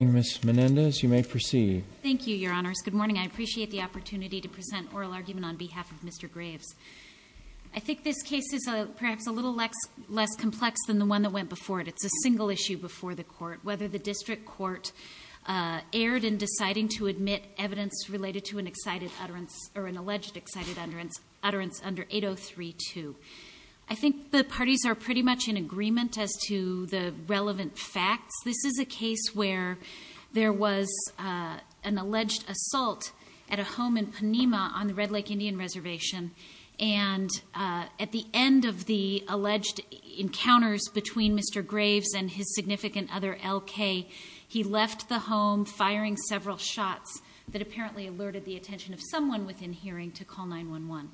Miss Menendez, you may proceed. Thank you, your honors. Good morning. I appreciate the opportunity to present oral argument on behalf of Mr. Graves. I think this case is perhaps a little less complex than the one that went before it. It's a single issue before the court, whether the district court erred in deciding to admit evidence related to an excited utterance or an alleged excited utterance under 8032. I think the parties are pretty much in agreement as to the relevant facts. This is a case where there was an alleged assault at a home in Panema on the Red Lake Indian Reservation. And at the end of the alleged encounters between Mr. Graves and his significant other LK, he left the home firing several shots that apparently alerted the attention of someone within hearing to call 911.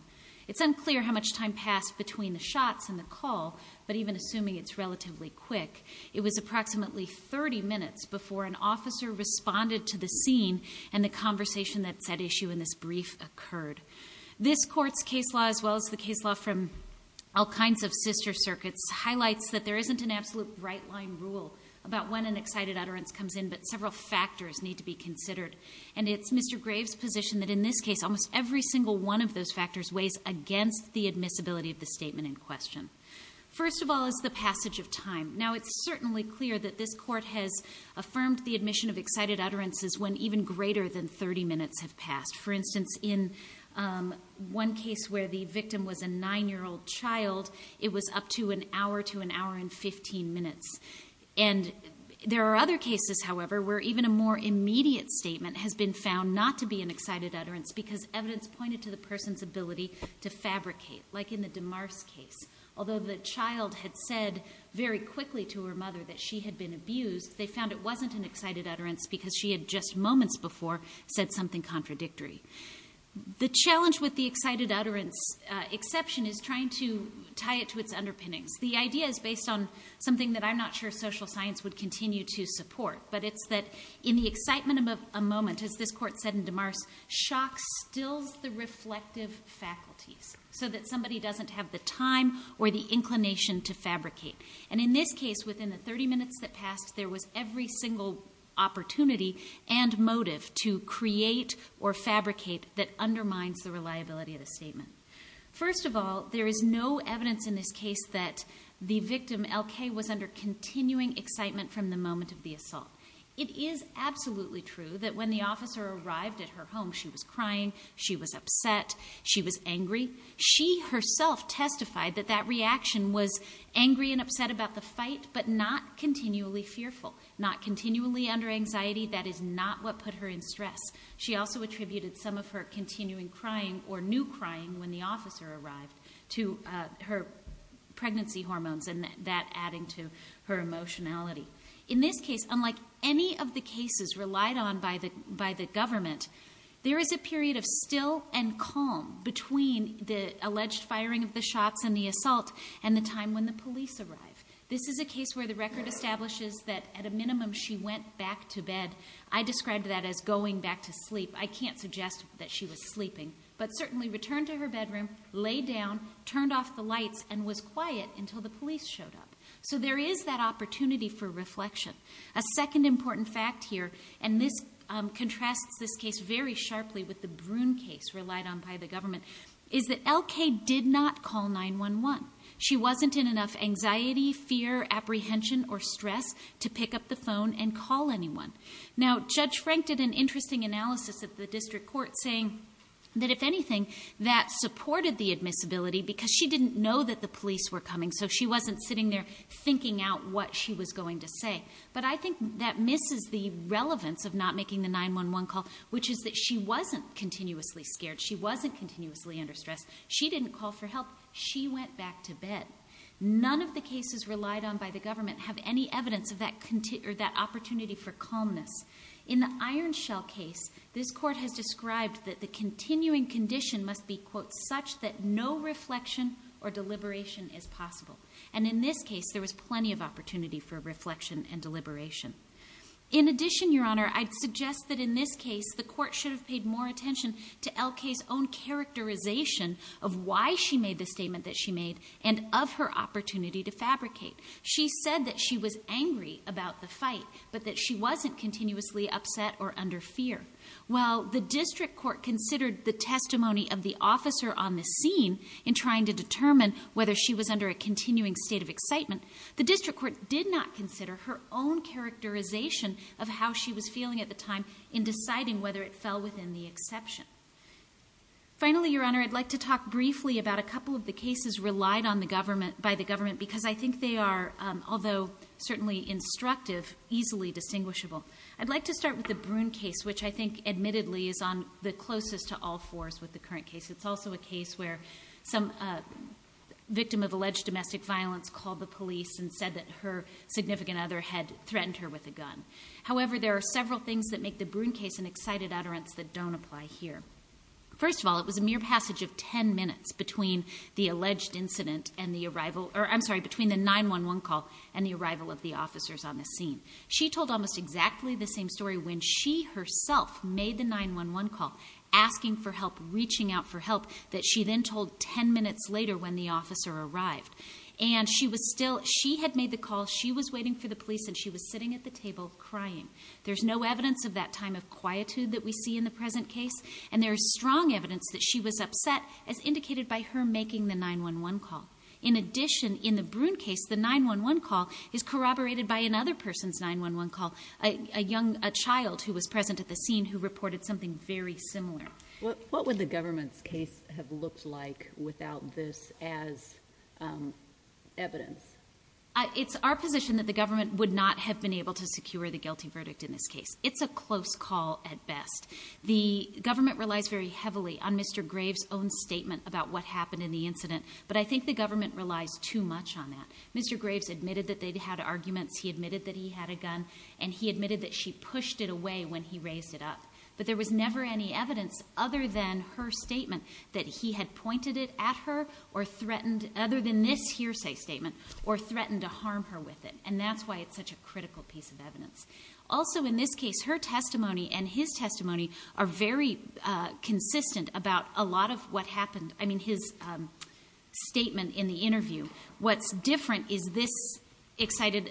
It's unclear how much time passed between the shots and the call, but even assuming it's relatively quick, it was approximately 30 minutes before an officer responded to the scene and the conversation that set issue in this brief occurred. This court's case law, as well as the case law from all kinds of sister circuits, highlights that there isn't an absolute right line rule about when an excited utterance comes in, but several factors need to be considered. And it's Mr. Graves' position that in this case, almost every single one of those factors weighs against the admissibility of the statement in question. First of all is the passage of time. Now it's certainly clear that this court has affirmed the admission of excited utterances when even greater than 30 minutes have passed. For instance, in one case where the victim was a nine year old child, it was up to an hour to an hour and 15 minutes. And there are other cases, however, where even a more immediate statement has been found not to be an excited utterance, because evidence pointed to the person's ability to fabricate, like in the DeMars case. Although the child had said very quickly to her mother that she had been abused, they found it wasn't an excited utterance because she had just moments before said something contradictory. The challenge with the excited utterance exception is trying to tie it to its underpinnings. The idea is based on something that I'm not sure social science would continue to support. But it's that in the excitement of a moment, as this court said in DeMars, shock stills the reflective faculties so that somebody doesn't have the time or the inclination to fabricate. And in this case, within the 30 minutes that passed, there was every single opportunity and motive to create or fabricate that undermines the reliability of the statement. First of all, there is no evidence in this case that the victim, LK, was under continuing excitement from the moment of the assault. It is absolutely true that when the officer arrived at her home, she was crying, she was upset, she was angry. She herself testified that that reaction was angry and upset about the fight, but not continually fearful. Not continually under anxiety, that is not what put her in stress. She also attributed some of her continuing crying or new crying when the officer arrived to her pregnancy hormones and that adding to her emotionality. In this case, unlike any of the cases relied on by the government, there is a period of still and calm between the alleged firing of the shots and the assault and the time when the police arrived. This is a case where the record establishes that at a minimum she went back to bed. I described that as going back to sleep. I can't suggest that she was sleeping. But certainly returned to her bedroom, laid down, turned off the lights, and was quiet until the police showed up. So there is that opportunity for reflection. A second important fact here, and this contrasts this case very sharply with the Broon case relied on by the government. Is that LK did not call 911. She wasn't in enough anxiety, fear, apprehension, or stress to pick up the phone and call anyone. Now, Judge Frank did an interesting analysis of the district court saying that if anything, that supported the admissibility because she didn't know that the police were coming. So she wasn't sitting there thinking out what she was going to say. But I think that misses the relevance of not making the 911 call, which is that she wasn't continuously scared. She wasn't continuously under stress. She didn't call for help. She went back to bed. None of the cases relied on by the government have any evidence of that opportunity for calmness. In the Ironshell case, this court has described that the continuing condition must be, quote, such that no reflection or deliberation is possible. And in this case, there was plenty of opportunity for reflection and deliberation. In addition, Your Honor, I'd suggest that in this case, the court should have paid more attention to LK's own characterization of why she made the statement that she made and of her opportunity to fabricate. She said that she was angry about the fight, but that she wasn't continuously upset or under fear. While the district court considered the testimony of the officer on the scene in trying to determine whether she was under a continuing state of excitement, the district court did not consider her own characterization of how she was feeling at the time in deciding whether it fell within the exception. Finally, Your Honor, I'd like to talk briefly about a couple of the cases relied on by the government, because I think they are, although certainly instructive, easily distinguishable. I'd like to start with the Broon case, which I think admittedly is on the closest to all fours with the current case. It's also a case where some victim of alleged domestic violence called the police and said that her significant other had threatened her with a gun. However, there are several things that make the Broon case an excited utterance that don't apply here. First of all, it was a mere passage of ten minutes between the alleged incident and the arrival, or I'm sorry, between the 911 call and the arrival of the officers on the scene. She told almost exactly the same story when she herself made the 911 call, asking for help, reaching out for help, that she then told ten minutes later when the officer arrived. And she was still, she had made the call, she was waiting for the police, and she was sitting at the table crying. There's no evidence of that time of quietude that we see in the present case. And there's strong evidence that she was upset, as indicated by her making the 911 call. In addition, in the Broon case, the 911 call is corroborated by another person's 911 call, a child who was present at the scene who reported something very similar. What would the government's case have looked like without this as evidence? It's our position that the government would not have been able to secure the guilty verdict in this case. It's a close call at best. The government relies very heavily on Mr. Graves' own statement about what happened in the incident. But I think the government relies too much on that. Mr. Graves admitted that they'd had arguments, he admitted that he had a gun, and he admitted that she pushed it away when he raised it up. But there was never any evidence other than her statement that he had pointed it at her, or threatened, other than this hearsay statement, or threatened to harm her with it. And that's why it's such a critical piece of evidence. Also in this case, her testimony and his testimony are very consistent about a lot of what happened. I mean, his statement in the interview. What's different is this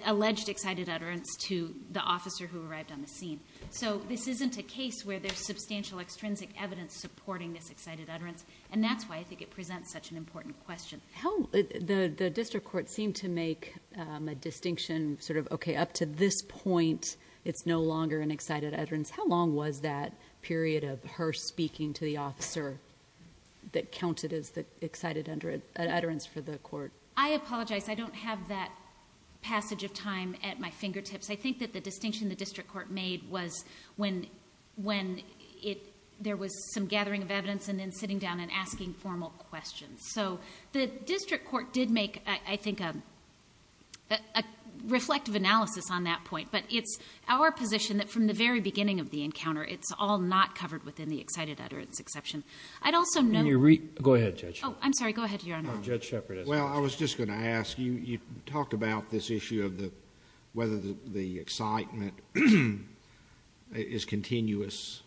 alleged excited utterance to the officer who arrived on the scene. So this isn't a case where there's substantial extrinsic evidence supporting this excited utterance. And that's why I think it presents such an important question. How, the district court seemed to make a distinction, sort of, okay, up to this point, it's no longer an excited utterance. How long was that period of her speaking to the officer that counted as the excited utterance for the court? I apologize, I don't have that passage of time at my fingertips. I think that the distinction the district court made was when there was some gathering of evidence and then sitting down and asking formal questions. So the district court did make, I think, a reflective analysis on that point. But it's our position that from the very beginning of the encounter, it's all not covered within the excited utterance exception. I'd also note- Go ahead, Judge Shepard. I'm sorry, go ahead, Your Honor. Judge Shepard. Well, I was just going to ask, you talked about this issue of whether the excitement is continuous.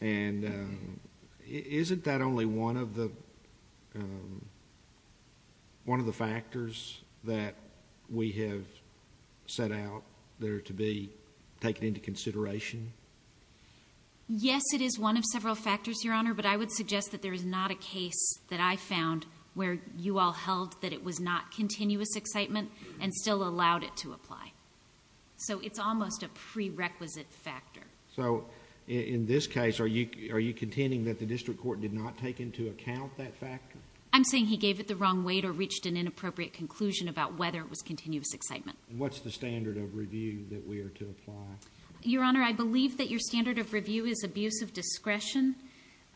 And isn't that only one of the factors that we have set out there to be taken into consideration? Yes, it is one of several factors, Your Honor, but I would suggest that there is not a case that I found where you all held that it was not continuous excitement and still allowed it to apply. So it's almost a prerequisite factor. So in this case, are you contending that the district court did not take into account that factor? I'm saying he gave it the wrong weight or reached an inappropriate conclusion about whether it was continuous excitement. What's the standard of review that we are to apply? Your Honor, I believe that your standard of review is abuse of discretion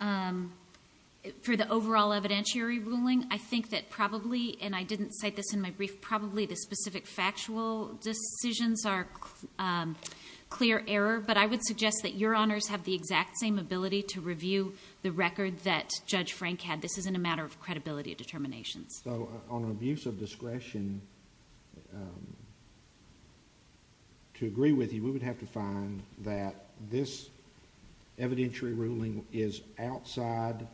for the overall evidentiary ruling. I think that probably, and I didn't cite this in my brief, probably the specific factual decisions are clear error. But I would suggest that Your Honors have the exact same ability to review the record that Judge Frank had. This isn't a matter of credibility of determinations. So on abuse of discretion, to agree with you, we would have to find that this evidentiary ruling is outside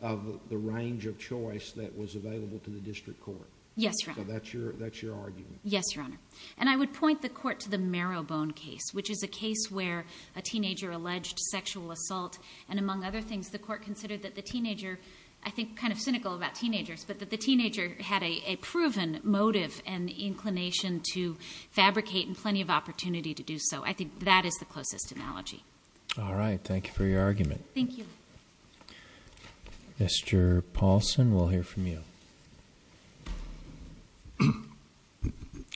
of the range of choice that was available to the district court. Yes, Your Honor. So that's your argument. Yes, Your Honor. And I would point the court to the Marrowbone case, which is a case where a teenager alleged sexual assault. And among other things, the court considered that the teenager, I think kind of cynical about teenagers, but that the teenager had a proven motive and inclination to fabricate, and plenty of opportunity to do so. I think that is the closest analogy. All right, thank you for your argument. Thank you. Mr. Paulson, we'll hear from you.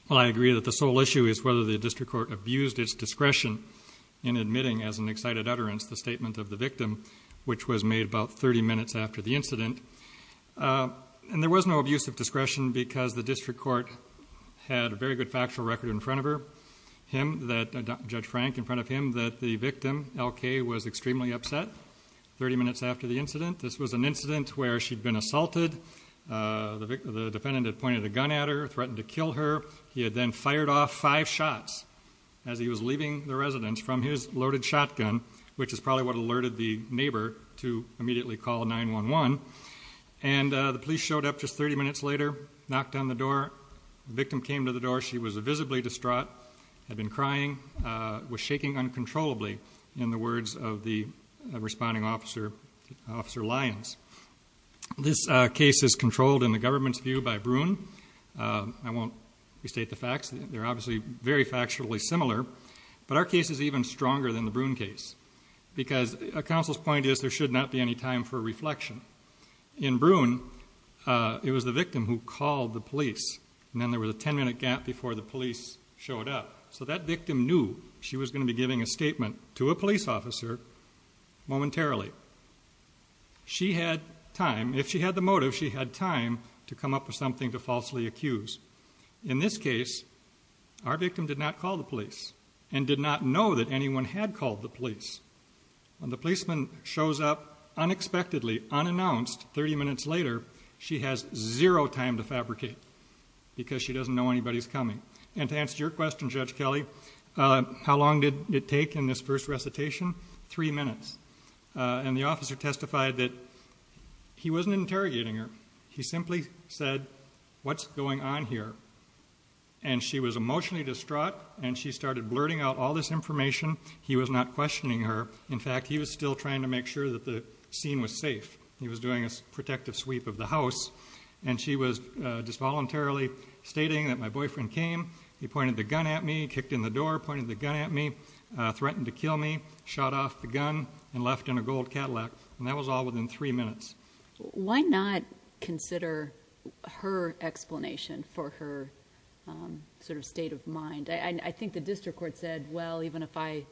Well, I agree that the sole issue is whether the district court abused its discretion in admitting as an excited utterance the statement of the victim. Which was made about 30 minutes after the incident. And there was no abuse of discretion because the district court had a very good factual record in front of her. Him, Judge Frank, in front of him, that the victim, LK, was extremely upset 30 minutes after the incident. This was an incident where she'd been assaulted. The defendant had pointed a gun at her, threatened to kill her. He had then fired off five shots as he was leaving the residence from his loaded shotgun, which is probably what alerted the neighbor to immediately call 911. And the police showed up just 30 minutes later, knocked on the door, the victim came to the door. She was visibly distraught, had been crying, was shaking uncontrollably, in the words of the responding officer, Officer Lyons. This case is controlled in the government's view by Broon. I won't restate the facts, they're obviously very factually similar. But our case is even stronger than the Broon case. Because a counsel's point is there should not be any time for reflection. In Broon, it was the victim who called the police, and then there was a ten minute gap before the police showed up. So that victim knew she was going to be giving a statement to a police officer momentarily. She had time, if she had the motive, she had time to come up with something to falsely accuse. In this case, our victim did not call the police, and did not know that anyone had called the police. When the policeman shows up unexpectedly, unannounced, 30 minutes later, she has zero time to fabricate, because she doesn't know anybody's coming. And to answer your question, Judge Kelly, how long did it take in this first recitation? Three minutes. And the officer testified that he wasn't interrogating her. He simply said, what's going on here? And she was emotionally distraught, and she started blurting out all this information. He was not questioning her. In fact, he was still trying to make sure that the scene was safe. He was doing a protective sweep of the house. And she was just voluntarily stating that my boyfriend came, he pointed the gun at me, kicked in the door, pointed the gun at me, threatened to kill me, shot off the gun, and left in a gold Cadillac. And that was all within three minutes. Why not consider her explanation for her sort of state of mind? I think the district court said, well, even if I...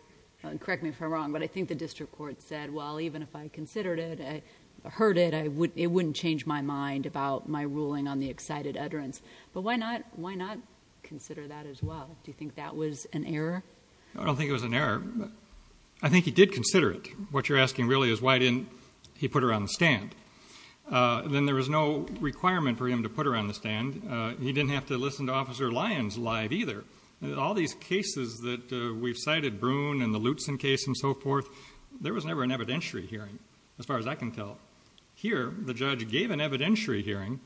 correct me if I'm wrong, but I think the district court said, well, even if I considered it, heard it, it wouldn't change my mind about my ruling on the excited utterance. But why not consider that as well? Do you think that was an error? I don't think it was an error. I think he did consider it. What you're asking, really, is why didn't he put her on the stand? Then there was no requirement for him to put her on the stand. He didn't have to listen to Officer Lyons live either. All these cases that we've cited, Broon and the Lutzen case and so forth, there was never an evidentiary hearing. As far as I can tell, here, the judge gave an evidentiary hearing.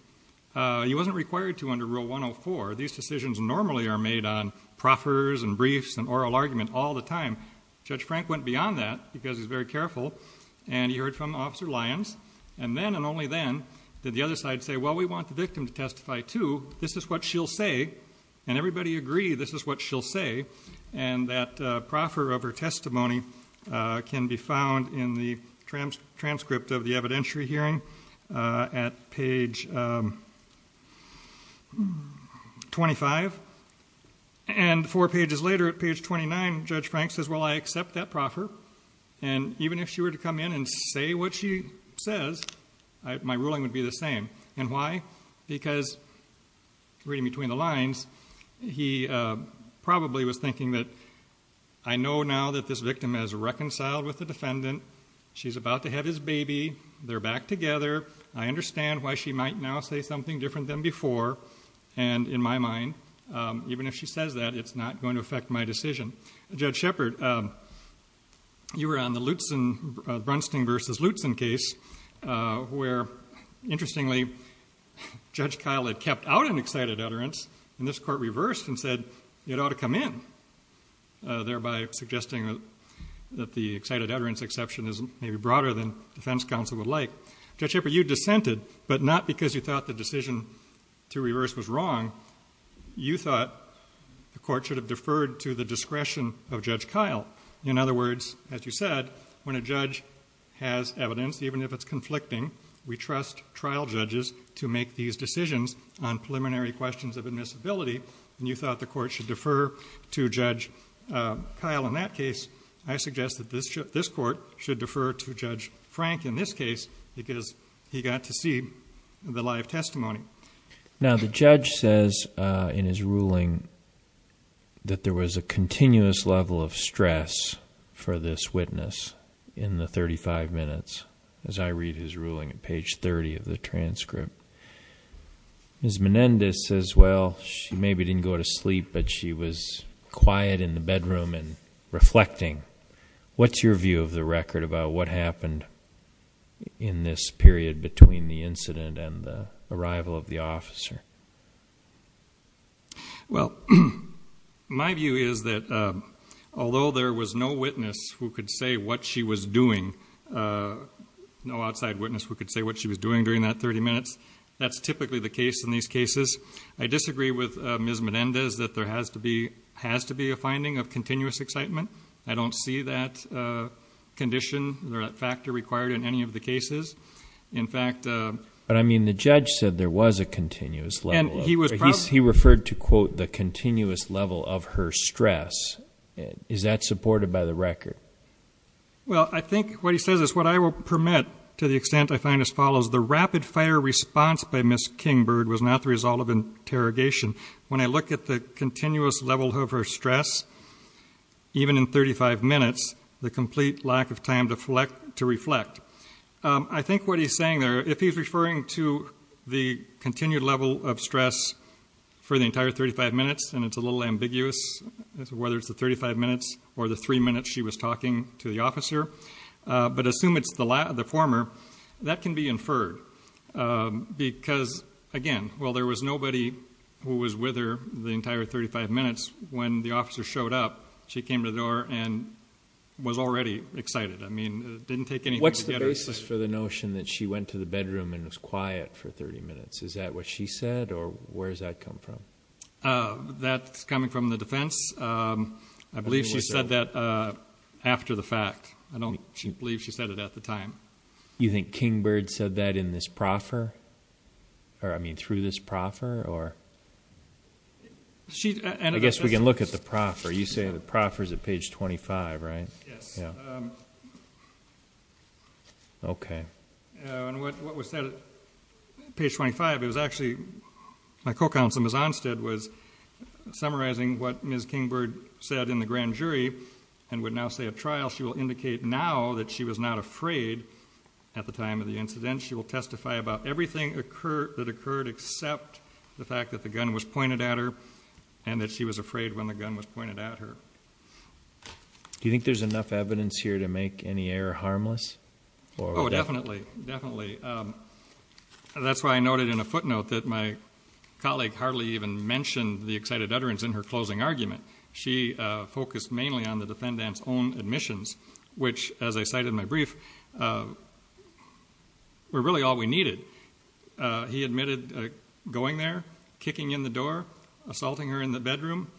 He wasn't required to under Rule 104. These decisions normally are made on proffers and briefs and oral argument all the time. Judge Frank went beyond that because he's very careful. And he heard from Officer Lyons. And then, and only then, did the other side say, well, we want the victim to testify too. This is what she'll say. And everybody agreed this is what she'll say. And that proffer of her testimony can be found in the transcript of the evidentiary hearing at page 25. And four pages later, at page 29, Judge Frank says, well, I accept that proffer. And even if she were to come in and say what she says, my ruling would be the same. And why? Because, reading between the lines, he probably was thinking that, I know now that this victim has reconciled with the defendant. She's about to have his baby. They're back together. I understand why she might now say something different than before. And in my mind, even if she says that, it's not going to affect my decision. Judge Shepard, you were on the Lutzen, Brunsting versus Lutzen case, where, interestingly, Judge Kyle had kept out an excited utterance. And this court reversed and said it ought to come in, thereby suggesting that the excited utterance exception is maybe broader than defense counsel would like. Judge Shepard, you dissented, but not because you thought the decision to reverse was wrong. You thought the court should have deferred to the discretion of Judge Kyle. In other words, as you said, when a judge has evidence, even if it's conflicting, we trust trial judges to make these decisions on preliminary questions of admissibility. And you thought the court should defer to Judge Kyle in that case. I suggest that this court should defer to Judge Frank in this case, because he got to see the live testimony. Now, the judge says in his ruling that there was a continuous level of stress for this witness in the 35 minutes, as I read his ruling at page 30 of the transcript. Ms. Menendez says, well, she maybe didn't go to sleep, but she was quiet in the bedroom and reflecting. What's your view of the record about what happened in this period between the incident and the arrival of the officer? Well, my view is that although there was no witness who could say what she was doing, no outside witness who could say what she was doing during that 30 minutes, that's typically the case in these cases. I disagree with Ms. Menendez that there has to be a finding of continuous excitement. I don't see that condition or that factor required in any of the cases. In fact- But I mean, the judge said there was a continuous level. And he was- He referred to, quote, the continuous level of her stress. Is that supported by the record? Well, I think what he says is what I will permit to the extent I find as follows. The rapid fire response by Ms. Kingbird was not the result of interrogation. When I look at the continuous level of her stress, even in 35 minutes, the complete lack of time to reflect. I think what he's saying there, if he's referring to the continued level of stress for the entire 35 minutes, and it's a little ambiguous whether it's the 35 minutes or the three minutes she was talking to the officer, but assume it's the former, that can be inferred. Because, again, while there was nobody who was with her the entire 35 minutes, when the officer showed up, she came to the door and was already excited. I mean, it didn't take any- What's the basis for the notion that she went to the bedroom and was quiet for 30 minutes? Is that what she said? Or where does that come from? That's coming from the defense. I believe she said that after the fact. I don't believe she said it at the time. You think Kingbird said that in this proffer? Or, I mean, through this proffer? I guess we can look at the proffer. You say the proffer's at page 25, right? Yes. Okay. And what was said at page 25, it was actually, my co-counsel Ms. Onstead was summarizing what Ms. Kingbird said in the grand jury, and would now say at trial, she will indicate now that she was not afraid at the time of the incident. She will testify about everything that occurred, except the fact that the gun was pointed at her, and that she was afraid when the gun was pointed at her. Do you think there's enough evidence here to make any error harmless? Oh, definitely. Definitely. That's why I noted in a footnote that my colleague hardly even mentioned the excited utterance in her closing argument. She focused mainly on the defendant's own admissions, which, as I cited in my brief, were really all we needed. He admitted going there, kicking in the door, assaulting her in the bedroom,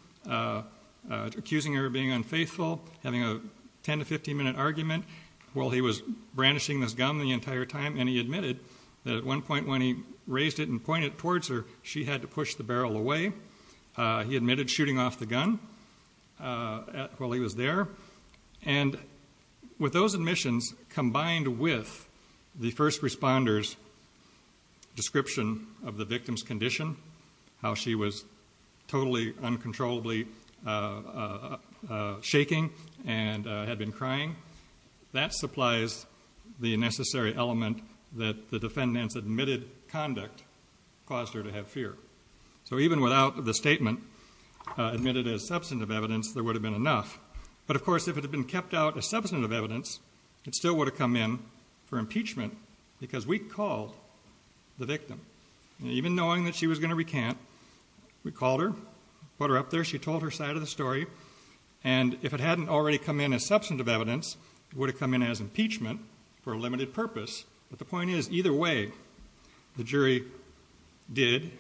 accusing her of being unfaithful, having a 10 to 15 minute argument, while he was brandishing this gun the entire time, and he admitted that at one point when he raised it and pointed it towards her, she had to push the barrel away. He admitted shooting off the gun while he was there, and with those admissions combined with the first responder's description of the victim's condition, how she was totally uncontrollably shaking and had been crying, that supplies the necessary element that the defendant's admitted conduct caused her to have fear. So even without the statement admitted as substantive evidence, there would have been enough. But of course, if it had been kept out as substantive evidence, it still would have come in for impeachment because we called the victim. Even knowing that she was going to recant, we called her, put her up there. She told her side of the story, and if it hadn't already come in as substantive evidence, it would have come in as impeachment for a limited purpose. But the point is, either way, the jury did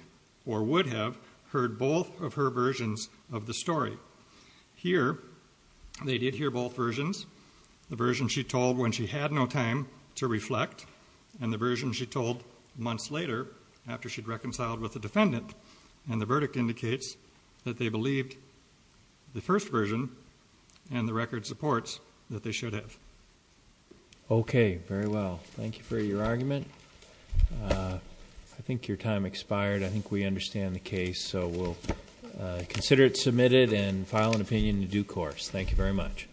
or would have heard both of her versions of the story. Here, they did hear both versions. The version she told when she had no time to reflect, and the version she told months later after she'd reconciled with the defendant. And the verdict indicates that they believed the first version and the record supports that they should have. Okay, very well. Thank you for your argument. I think your time expired. I think we understand the case. So we'll consider it submitted and file an opinion in due course. Thank you very much.